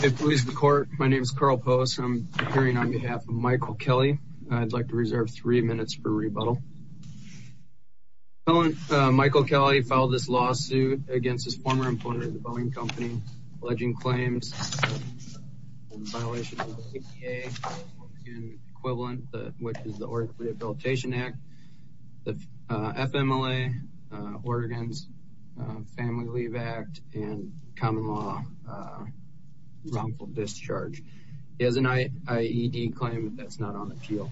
Hey police and the court. My name is Carl Post. I'm appearing on behalf of Michael Kelly. I'd like to reserve three minutes for rebuttal. Michael Kelly filed this lawsuit against his former employer, the Boeing Company, alleging claims in violation of the APA and equivalent, which is the Oregon Rehabilitation Act, the FMLA, Oregon's Family Leave Act, and common law wrongful discharge. He has an IED claim that's not on appeal.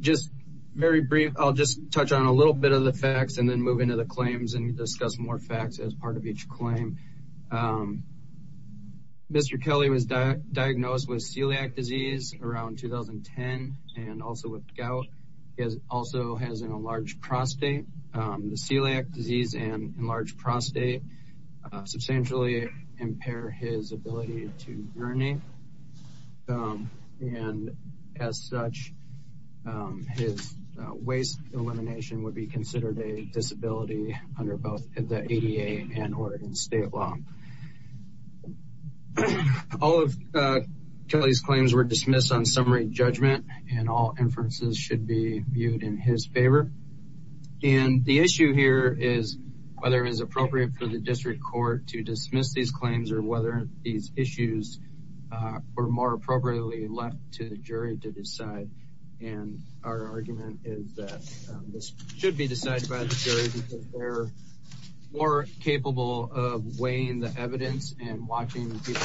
Just very brief, I'll just touch on a little bit of the facts and then move into the claims and discuss more facts as part of each claim. Mr. Kelly was diagnosed with celiac disease around 2010 and also with gout. He also has an enlarged prostate. The celiac disease and enlarged prostate substantially impair his ability to urinate and as such his waist elimination would be considered a disability under both the ADA and Oregon state law. All of Kelly's claims were dismissed on summary judgment and all inferences should be viewed in his favor. And the issue here is whether it is appropriate for the district court to dismiss these claims or whether these issues were more appropriately left to the jury to decide. And our argument is that this should be decided by the jury because they're more capable of weighing the evidence and watching the people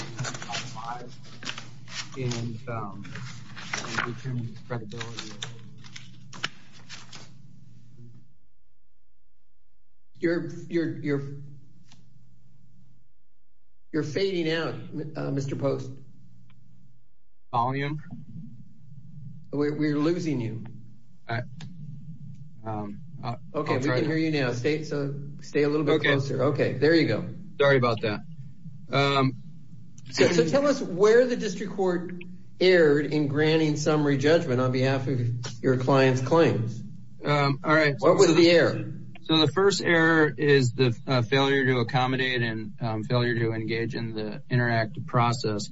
You're fading out, Mr. Post. Volume? We're losing you. Okay, we can hear you now. Stay a little bit closer. Okay, there you go. Sorry about that. So tell us where the district court erred in granting summary judgment on behalf of your client's claims. What was the error? So the first error is the failure to accommodate and failure to engage in the interactive process.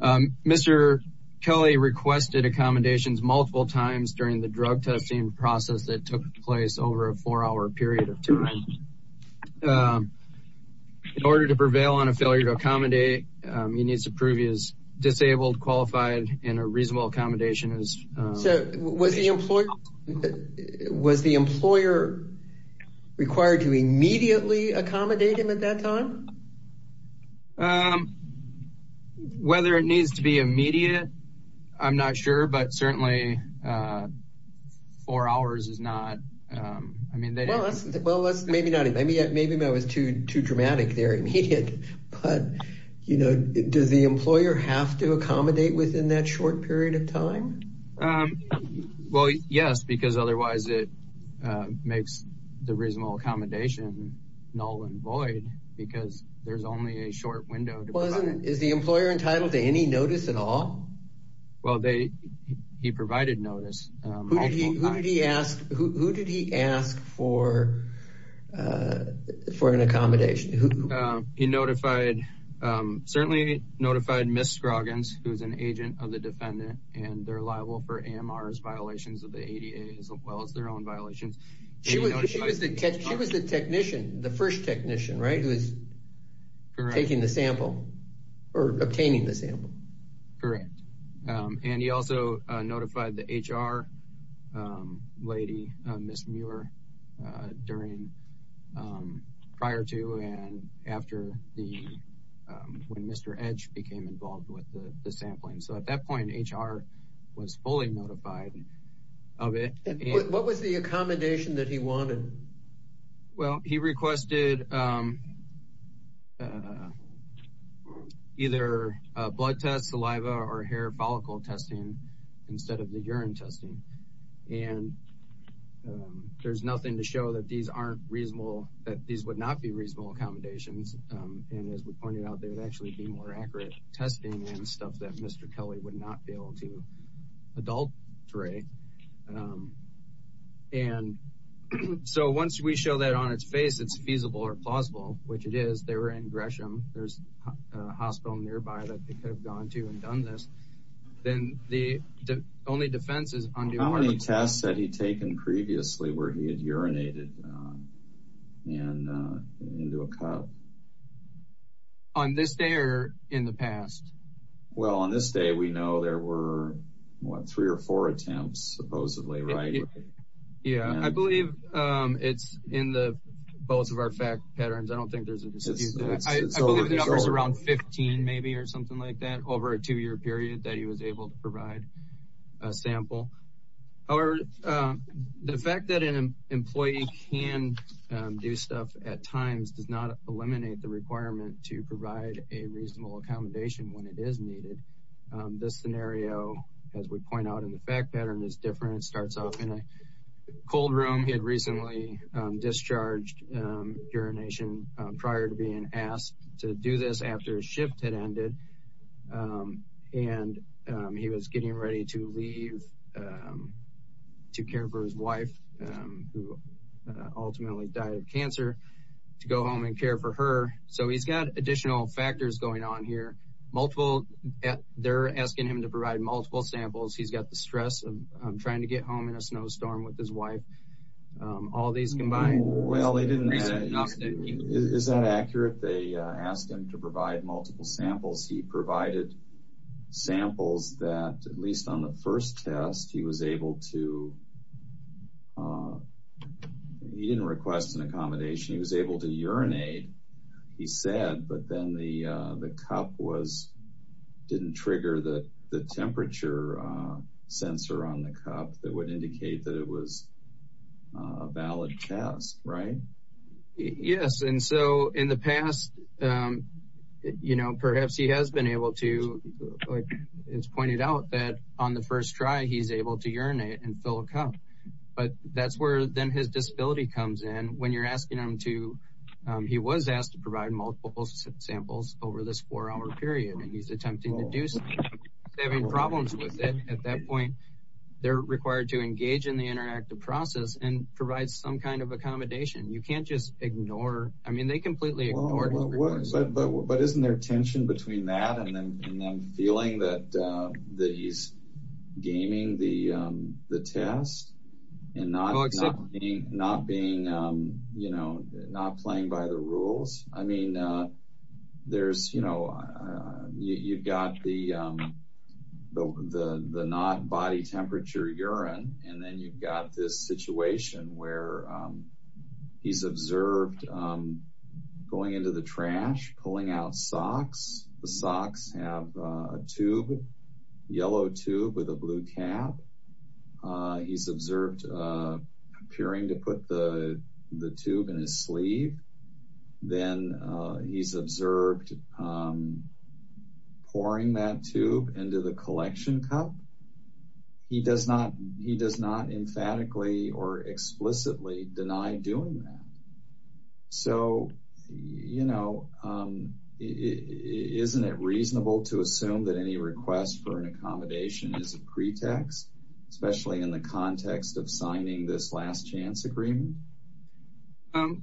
Mr. Kelly requested accommodations multiple times during the drug testing process that took place over a four-hour period of time. In order to prevail on a failure to accommodate, he needs to prove he is disabled, qualified, and a reasonable accommodation is... So was the employer required to immediately accommodate him at that time? Whether it needs to be immediate, I'm not sure, but certainly four hours is not... Well, maybe that was too dramatic there, immediate. But does the employer have to accommodate within that short period of time? Well, yes, because otherwise it makes the reasonable accommodation null and void because there's only a short window. Is the employer entitled to any notice at all? Well, he provided notice. Who did he ask for an accommodation? He notified, certainly notified Ms. Scroggins, who's an agent of the defendant, and they're liable for AMR's violations of the ADA as well as their own violations. She was the technician, the first and he also notified the HR lady, Ms. Muir, prior to and after when Mr. Edge became involved with the sampling. So at that point, HR was fully notified of it. What was the accommodation that he wanted? Well, he requested either a blood test, saliva or hair follicle testing instead of the urine testing. And there's nothing to show that these aren't reasonable, that these would not be reasonable accommodations. And as we pointed out, there would actually be more accurate testing and stuff that Mr. Kelly would not be able to adulterate. And so once we show that on its face, it's feasible or plausible, which it is, they were in Gresham. There's a hospital nearby that they could have gone to and done this. Then the only defense is on the test that he'd taken previously where he had urinated and into a cup. On this day or in the past? Well, on this day, we know there were three or four attempts, supposedly, right? Yeah, I believe it's in both of our fact patterns. I don't think there's a dispute. I believe there's around 15 maybe or something like that over a two-year period that he was able to provide a sample. However, the fact that an employee can do stuff at times does not eliminate the requirement to provide a reasonable accommodation when it is needed. This scenario, as we point out, in the fact pattern is different. It starts off in a cold room. He had recently discharged urination prior to being asked to do this after his shift had ended. And he was getting ready to leave to care for his wife, who ultimately died of cancer, to go home and care for her. So he's got additional factors going on here. They're asking him to provide multiple samples. He's got the stress of trying to get home in a snowstorm with his wife. All these combined. Is that accurate? They asked him to provide multiple samples. He provided samples that, at least on the first test, he was able to... He said, but then the cup didn't trigger the temperature sensor on the cup that would indicate that it was a valid test, right? Yes. And so in the past, perhaps he has been able to... It's pointed out that on the first try, he's able to urinate and fill a cup. But that's where then his disability comes in. When you're asking him to... Samples over this four-hour period, and he's attempting to do something, having problems with it. At that point, they're required to engage in the interactive process and provide some kind of accommodation. You can't just ignore. I mean, they completely ignored. But isn't there tension between that and then feeling that he's gaming the test and not being... Not playing by the rules. I mean, you've got the not body temperature urine, and then you've got this situation where he's observed going into the trash, pulling out socks. The socks have a tube, yellow tube with a blue cap. He's observed appearing to put the tube in his sleeve. Then he's observed pouring that tube into the collection cup. He does not emphatically or explicitly deny doing that. So isn't it reasonable to assume that any request for an accommodation is a pretext, especially in the context of signing this last chance agreement?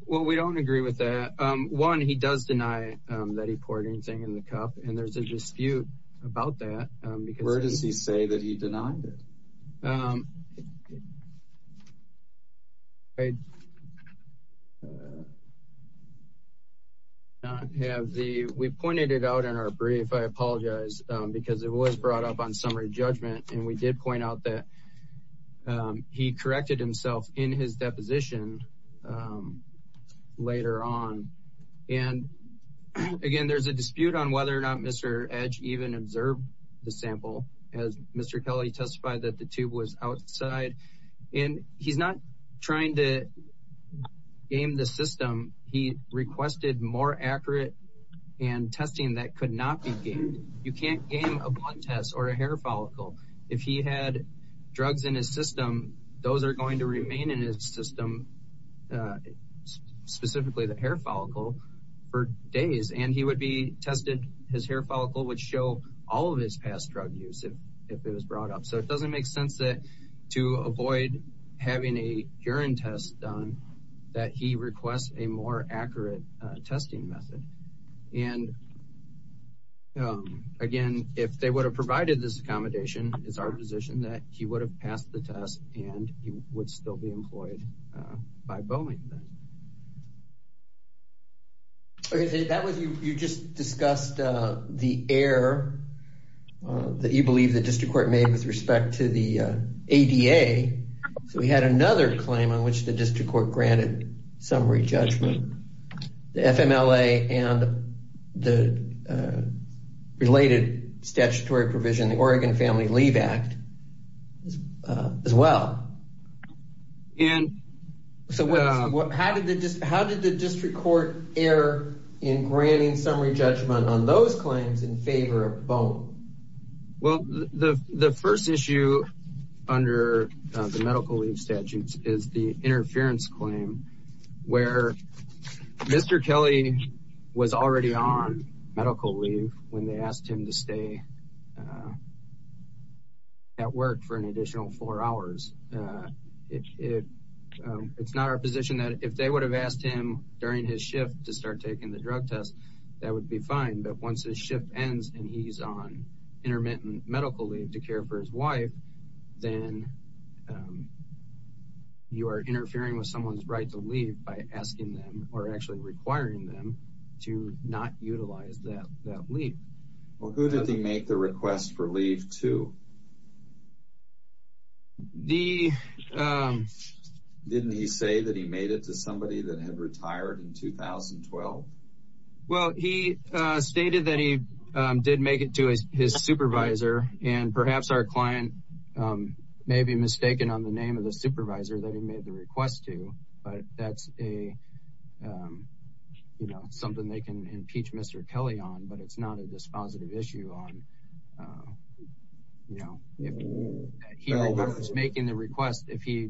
Well, we don't agree with that. One, he does deny that he poured anything in the cup, and there's a dispute about that. Where does he say that he denied it? We pointed it out in our brief, I apologize, because it was brought up on summary judgment, and we did point out that he corrected himself in his deposition later on. And again, there's a dispute on whether or not Mr. Edge even observed the sample, as Mr. Kelly testified that the tube was outside. And he's not trying to game the system. He requested more accurate and testing that could not be gamed. You can't game a blood test or a hair follicle. If he had drugs in his system, those are going to remain in his system, specifically the hair follicle, for days. And he would be tested, his hair follicle would show all of his past drug use if it was brought up. So it doesn't make sense to avoid having a urine test done that he requests a more accurate testing method. And again, if they would have provided this accommodation, it's our position that he would have passed the test and he would still be employed by Boeing. You just discussed the error that you believe the district court made with respect to the ADA. So we had another claim on which the district court granted summary judgment. The FMLA and the related statutory provision, the Oregon Family Leave Act, as well. And so how did the district court err in granting summary judgment on those claims in favor of Boeing? Well, the first issue under the medical leave statutes is the interference claim where Mr. Kelly was already on medical leave when they asked him to stay at work for an additional four hours. It's not our position that if they would have asked him during his shift to start taking the drug test, that would be fine. But once his shift ends and he's on intermittent medical leave to care for his wife, then you are interfering with someone's right to leave by asking them or actually requiring them to not utilize that leave. Well, who did he make the request for leave to? Didn't he say that he made it to somebody that had retired in 2012? Well, he stated that he did make it to his supervisor and perhaps our client may be mistaken on the name of the supervisor that he made the request to, but that's a, um, you know, something they can impeach Mr. Kelly on, but it's not a dispositive issue on, you know, if he remembers making the request, if he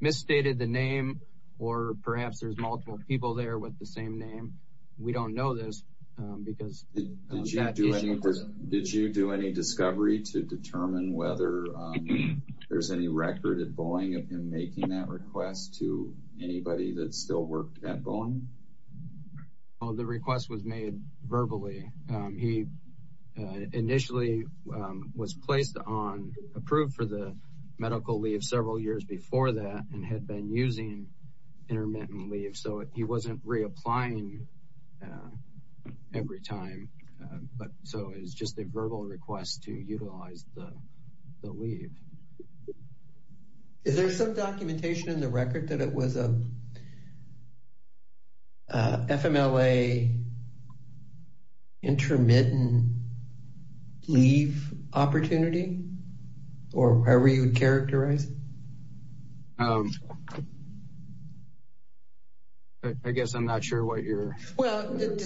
misstated the name or perhaps there's multiple people there with the same name. We don't know this because... Did you do any discovery to determine whether there's any record at Boeing of him making that request to anybody that still worked at Boeing? Well, the request was made verbally. He initially was placed on, approved for the medical leave several years before that and had been using intermittent leave. So he wasn't reapplying every time, but so it was just a verbal request to utilize the leave. Is there some documentation in the record that it was a FMLA intermittent leave opportunity or however you would characterize it? Um, I guess I'm not sure what you're... Did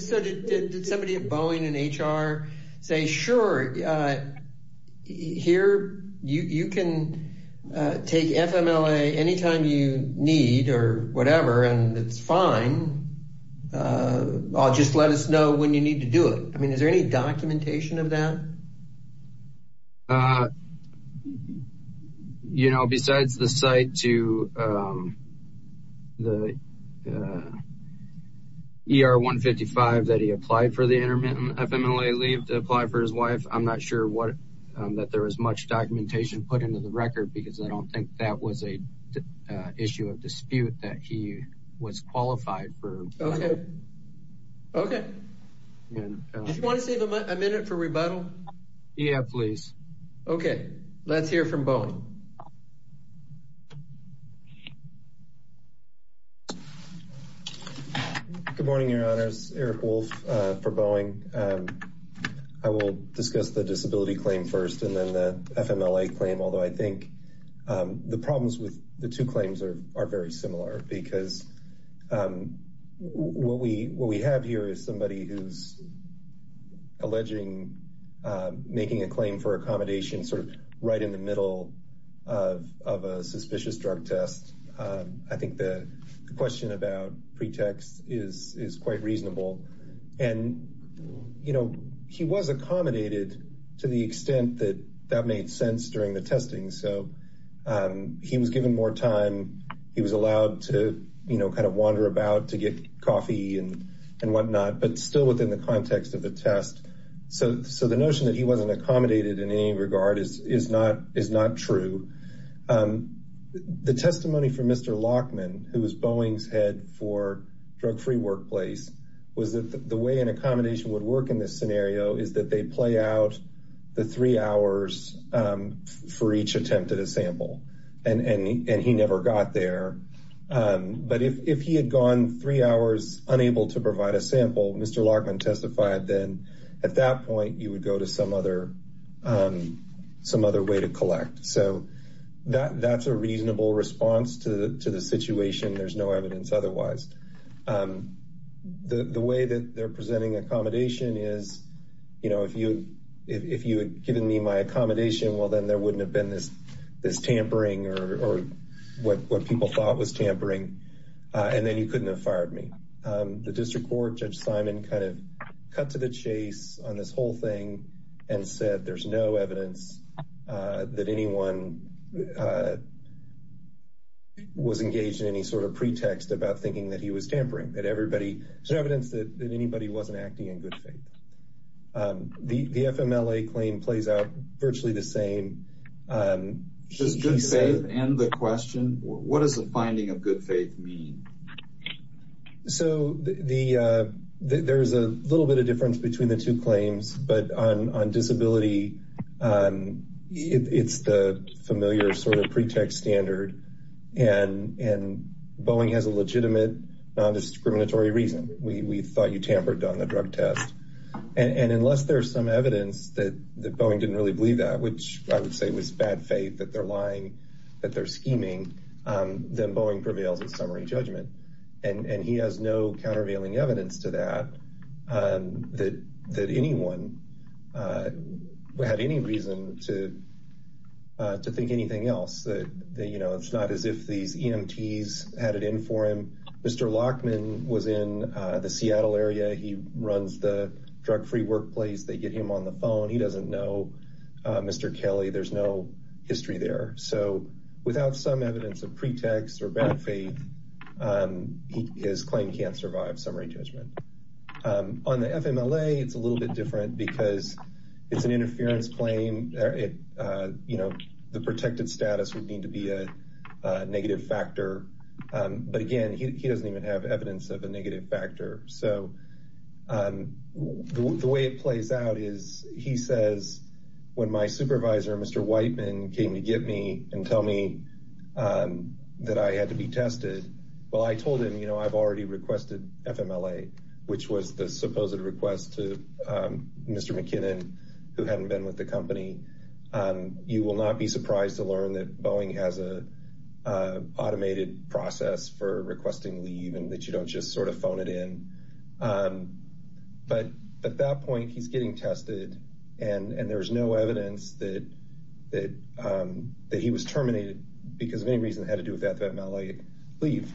somebody at Boeing and HR say, sure, here you can take FMLA anytime you need or whatever, and it's fine. I'll just let us know when you need to do it. I mean, is there any documentation of that he applied for the intermittent FMLA leave to apply for his wife? I'm not sure what, that there was much documentation put into the record because I don't think that was a issue of dispute that he was qualified for. Okay. Okay. Did you want to save a minute for rebuttal? Yeah, please. Okay. Let's hear from Boeing. Good morning, your honors. Eric Wolf for Boeing. I will discuss the disability claim first and then the FMLA claim. Although I think the problems with the two claims are very similar because what we have here is somebody who's alleging, making a claim for accommodation sort of in the middle of a suspicious drug test. I think the question about pretext is quite reasonable. And, you know, he was accommodated to the extent that that made sense during the testing. So he was given more time. He was allowed to kind of wander about to get coffee and whatnot, but still within the context of the test. So the notion that he wasn't accommodated in any regard is not true. The testimony from Mr. Lockman, who was Boeing's head for drug-free workplace, was that the way an accommodation would work in this scenario is that they play out the three hours for each attempt at a sample. And he never got there. But if he had gone three hours unable to provide a sample, Mr. Lockman testified, then at that point you would some other way to collect. So that's a reasonable response to the situation. There's no evidence otherwise. The way that they're presenting accommodation is, you know, if you had given me my accommodation, well, then there wouldn't have been this tampering or what people thought was tampering. And then you couldn't have fired me. The district court, Judge Simon kind of cut to the chase on this whole thing and said there's no evidence that anyone was engaged in any sort of pretext about thinking that he was tampering. That everybody, there's evidence that anybody wasn't acting in good faith. The FMLA claim plays out virtually the same. Should good faith end the question? What does the finding of good faith mean? So there's a little bit of difference between the two claims, but on disability, it's the familiar sort of pretext standard. And Boeing has a legitimate, non-discriminatory reason. We thought you tampered on the drug test. And unless there's some evidence that Boeing didn't really believe that, which I would say was bad faith that they're scheming, then Boeing prevails in summary judgment. And he has no countervailing evidence to that, that anyone had any reason to think anything else. It's not as if these EMTs had it in for him. Mr. Lockman was in the Seattle area. He runs the drug-free workplace. They get him on the phone. He doesn't know Mr. Kelly. There's no history there. So without some evidence of pretext or bad faith, his claim can't survive summary judgment. On the FMLA, it's a little bit different because it's an interference claim. The protected status would need to be a negative factor. But again, he doesn't even have evidence of a negative factor. So the way it plays out is he says, when my supervisor, Mr. Whiteman, came to get me and tell me that I had to be tested, well, I told him, you know, I've already requested FMLA, which was the supposed request to Mr. McKinnon, who hadn't been with the company. You will not be surprised to learn that Boeing has an automated process for requesting leave and that you don't just sort of phone it in. But at that point, he's getting tested and there's no evidence that he was terminated because of any reason that had to do with FMLA leave.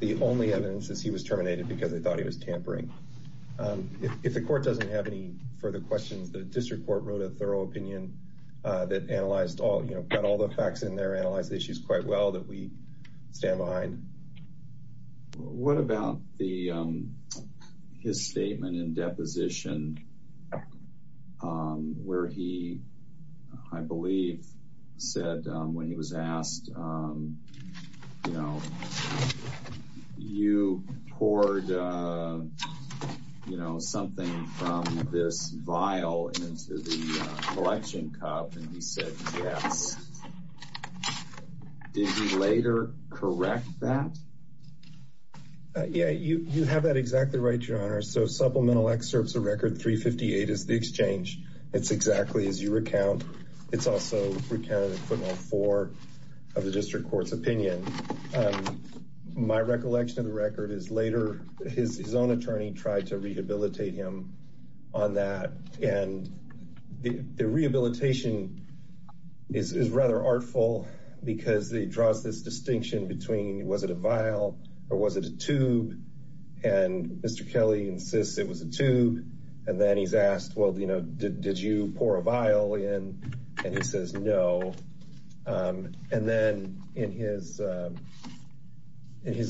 The only evidence is he was terminated because they thought he was tampering. If the court doesn't have any further questions, the district court wrote a thorough opinion that analyzed all, you know, got all the facts in there, analyzed the issues quite well, that we stand behind. What about the, his statement in deposition where he, I believe, said when he was asked, you know, you poured, you know, something from this vial into the collection cup and he said, yes. Did he later correct that? Yeah, you have that exactly right, your honor. So supplemental excerpts of record 358 is the exchange. It's exactly as you recount. It's also recounted in footnote four of the district court's opinion. My recollection of the record is later his own tried to rehabilitate him on that. And the rehabilitation is rather artful because it draws this distinction between was it a vial or was it a tube? And Mr. Kelly insists it was a tube. And then he's asked, well, you know, did you pour a vial in? And he says, no. And then in his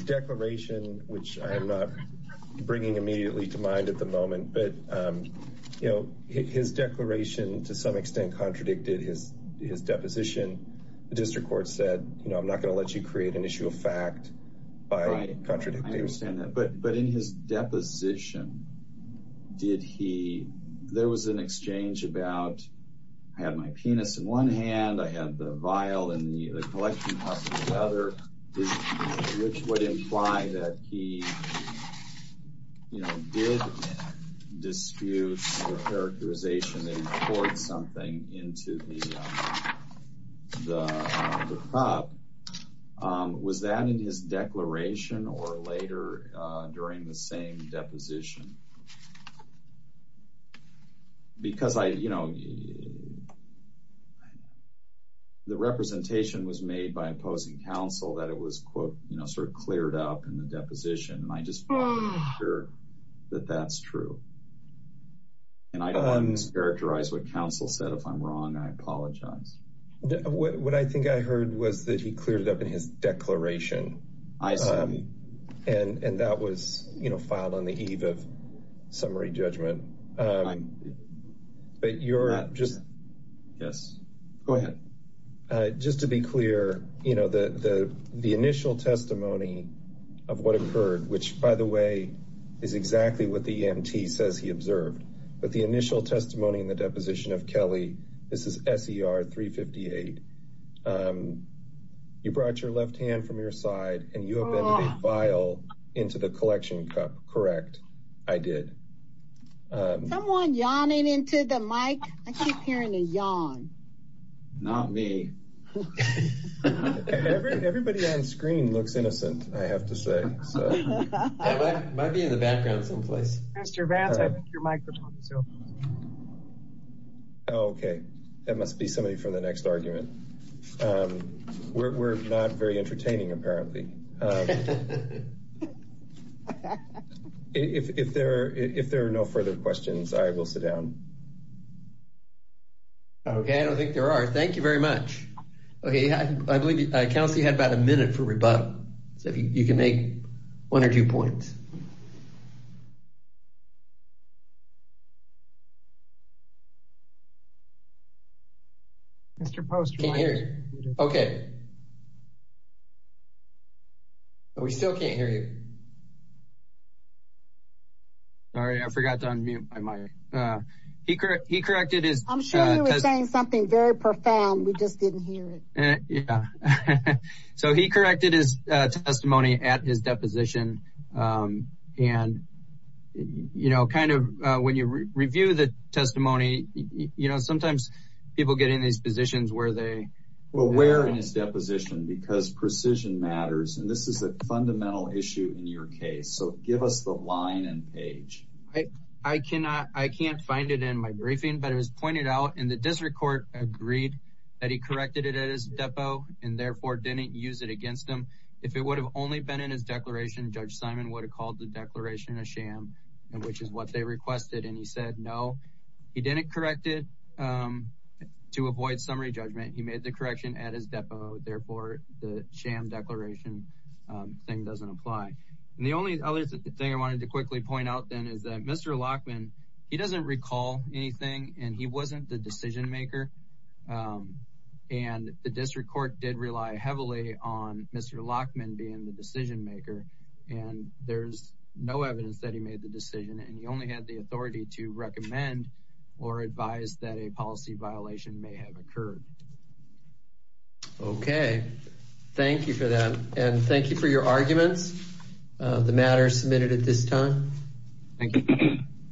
declaration, which I'm not bringing immediately to mind at the moment, but you know, his declaration to some extent contradicted his deposition. The district court said, you know, I'm not going to let you create an issue of fact by contradicting. I understand that. But in his deposition, did he, there was an exchange about, I had my penis in one hand, I had the vial in the other, which would imply that he, you know, did dispute the characterization that he poured something into the cup. Was that in his declaration or later during the same deposition? The representation was made by opposing counsel that it was, quote, you know, sort of cleared up in the deposition. And I just want to make sure that that's true. And I don't want to characterize what counsel said. If I'm wrong, I apologize. What I think I heard was that he cleared it up in his declaration. I assume. And that was, you know, filed on the eve of judgment. But you're just, yes, go ahead. Just to be clear, you know, the initial testimony of what occurred, which by the way, is exactly what the EMT says he observed. But the initial testimony in the deposition of Kelly, this is SER 358. You brought your left hand from your side and you have entered a vial into the collection cup. Correct. I did. Someone yawning into the mic. I keep hearing a yawn. Not me. Everybody on screen looks innocent, I have to say. Might be in the background someplace. Mr. Vance, I think your microphone is over. Okay. That must be somebody from the next argument. We're not very entertaining, apparently. If there are no further questions, I will sit down. Okay. I don't think there are. Thank you very much. Okay. I believe counsel had about a minute for rebuttal. So if you can make one or two points. Mr. Post, can you hear me? Okay. Okay. We still can't hear you. Sorry, I forgot to unmute my mic. He corrected his... I'm sure he was saying something very profound. We just didn't hear it. So he corrected his testimony at his deposition. And, you know, kind of when you review the testimony, you know, sometimes people get in these positions where they... Where? In his deposition, because precision matters. And this is a fundamental issue in your case. So give us the line and page. I can't find it in my briefing, but it was pointed out in the district court agreed that he corrected it at his depo, and therefore didn't use it against him. If it would have only been in his declaration, Judge Simon would have called the declaration a sham, which is what they requested. And he said, he didn't correct it to avoid summary judgment. He made the correction at his depo. Therefore, the sham declaration thing doesn't apply. And the only other thing I wanted to quickly point out then is that Mr. Lockman, he doesn't recall anything and he wasn't the decision maker. And the district court did rely heavily on Mr. Lockman being the decision maker. And there's no evidence that he made the decision. And he only had the authority to recommend or advise that a policy violation may have occurred. Okay. Thank you for that. And thank you for your arguments. The matter is submitted at this time. Thank you.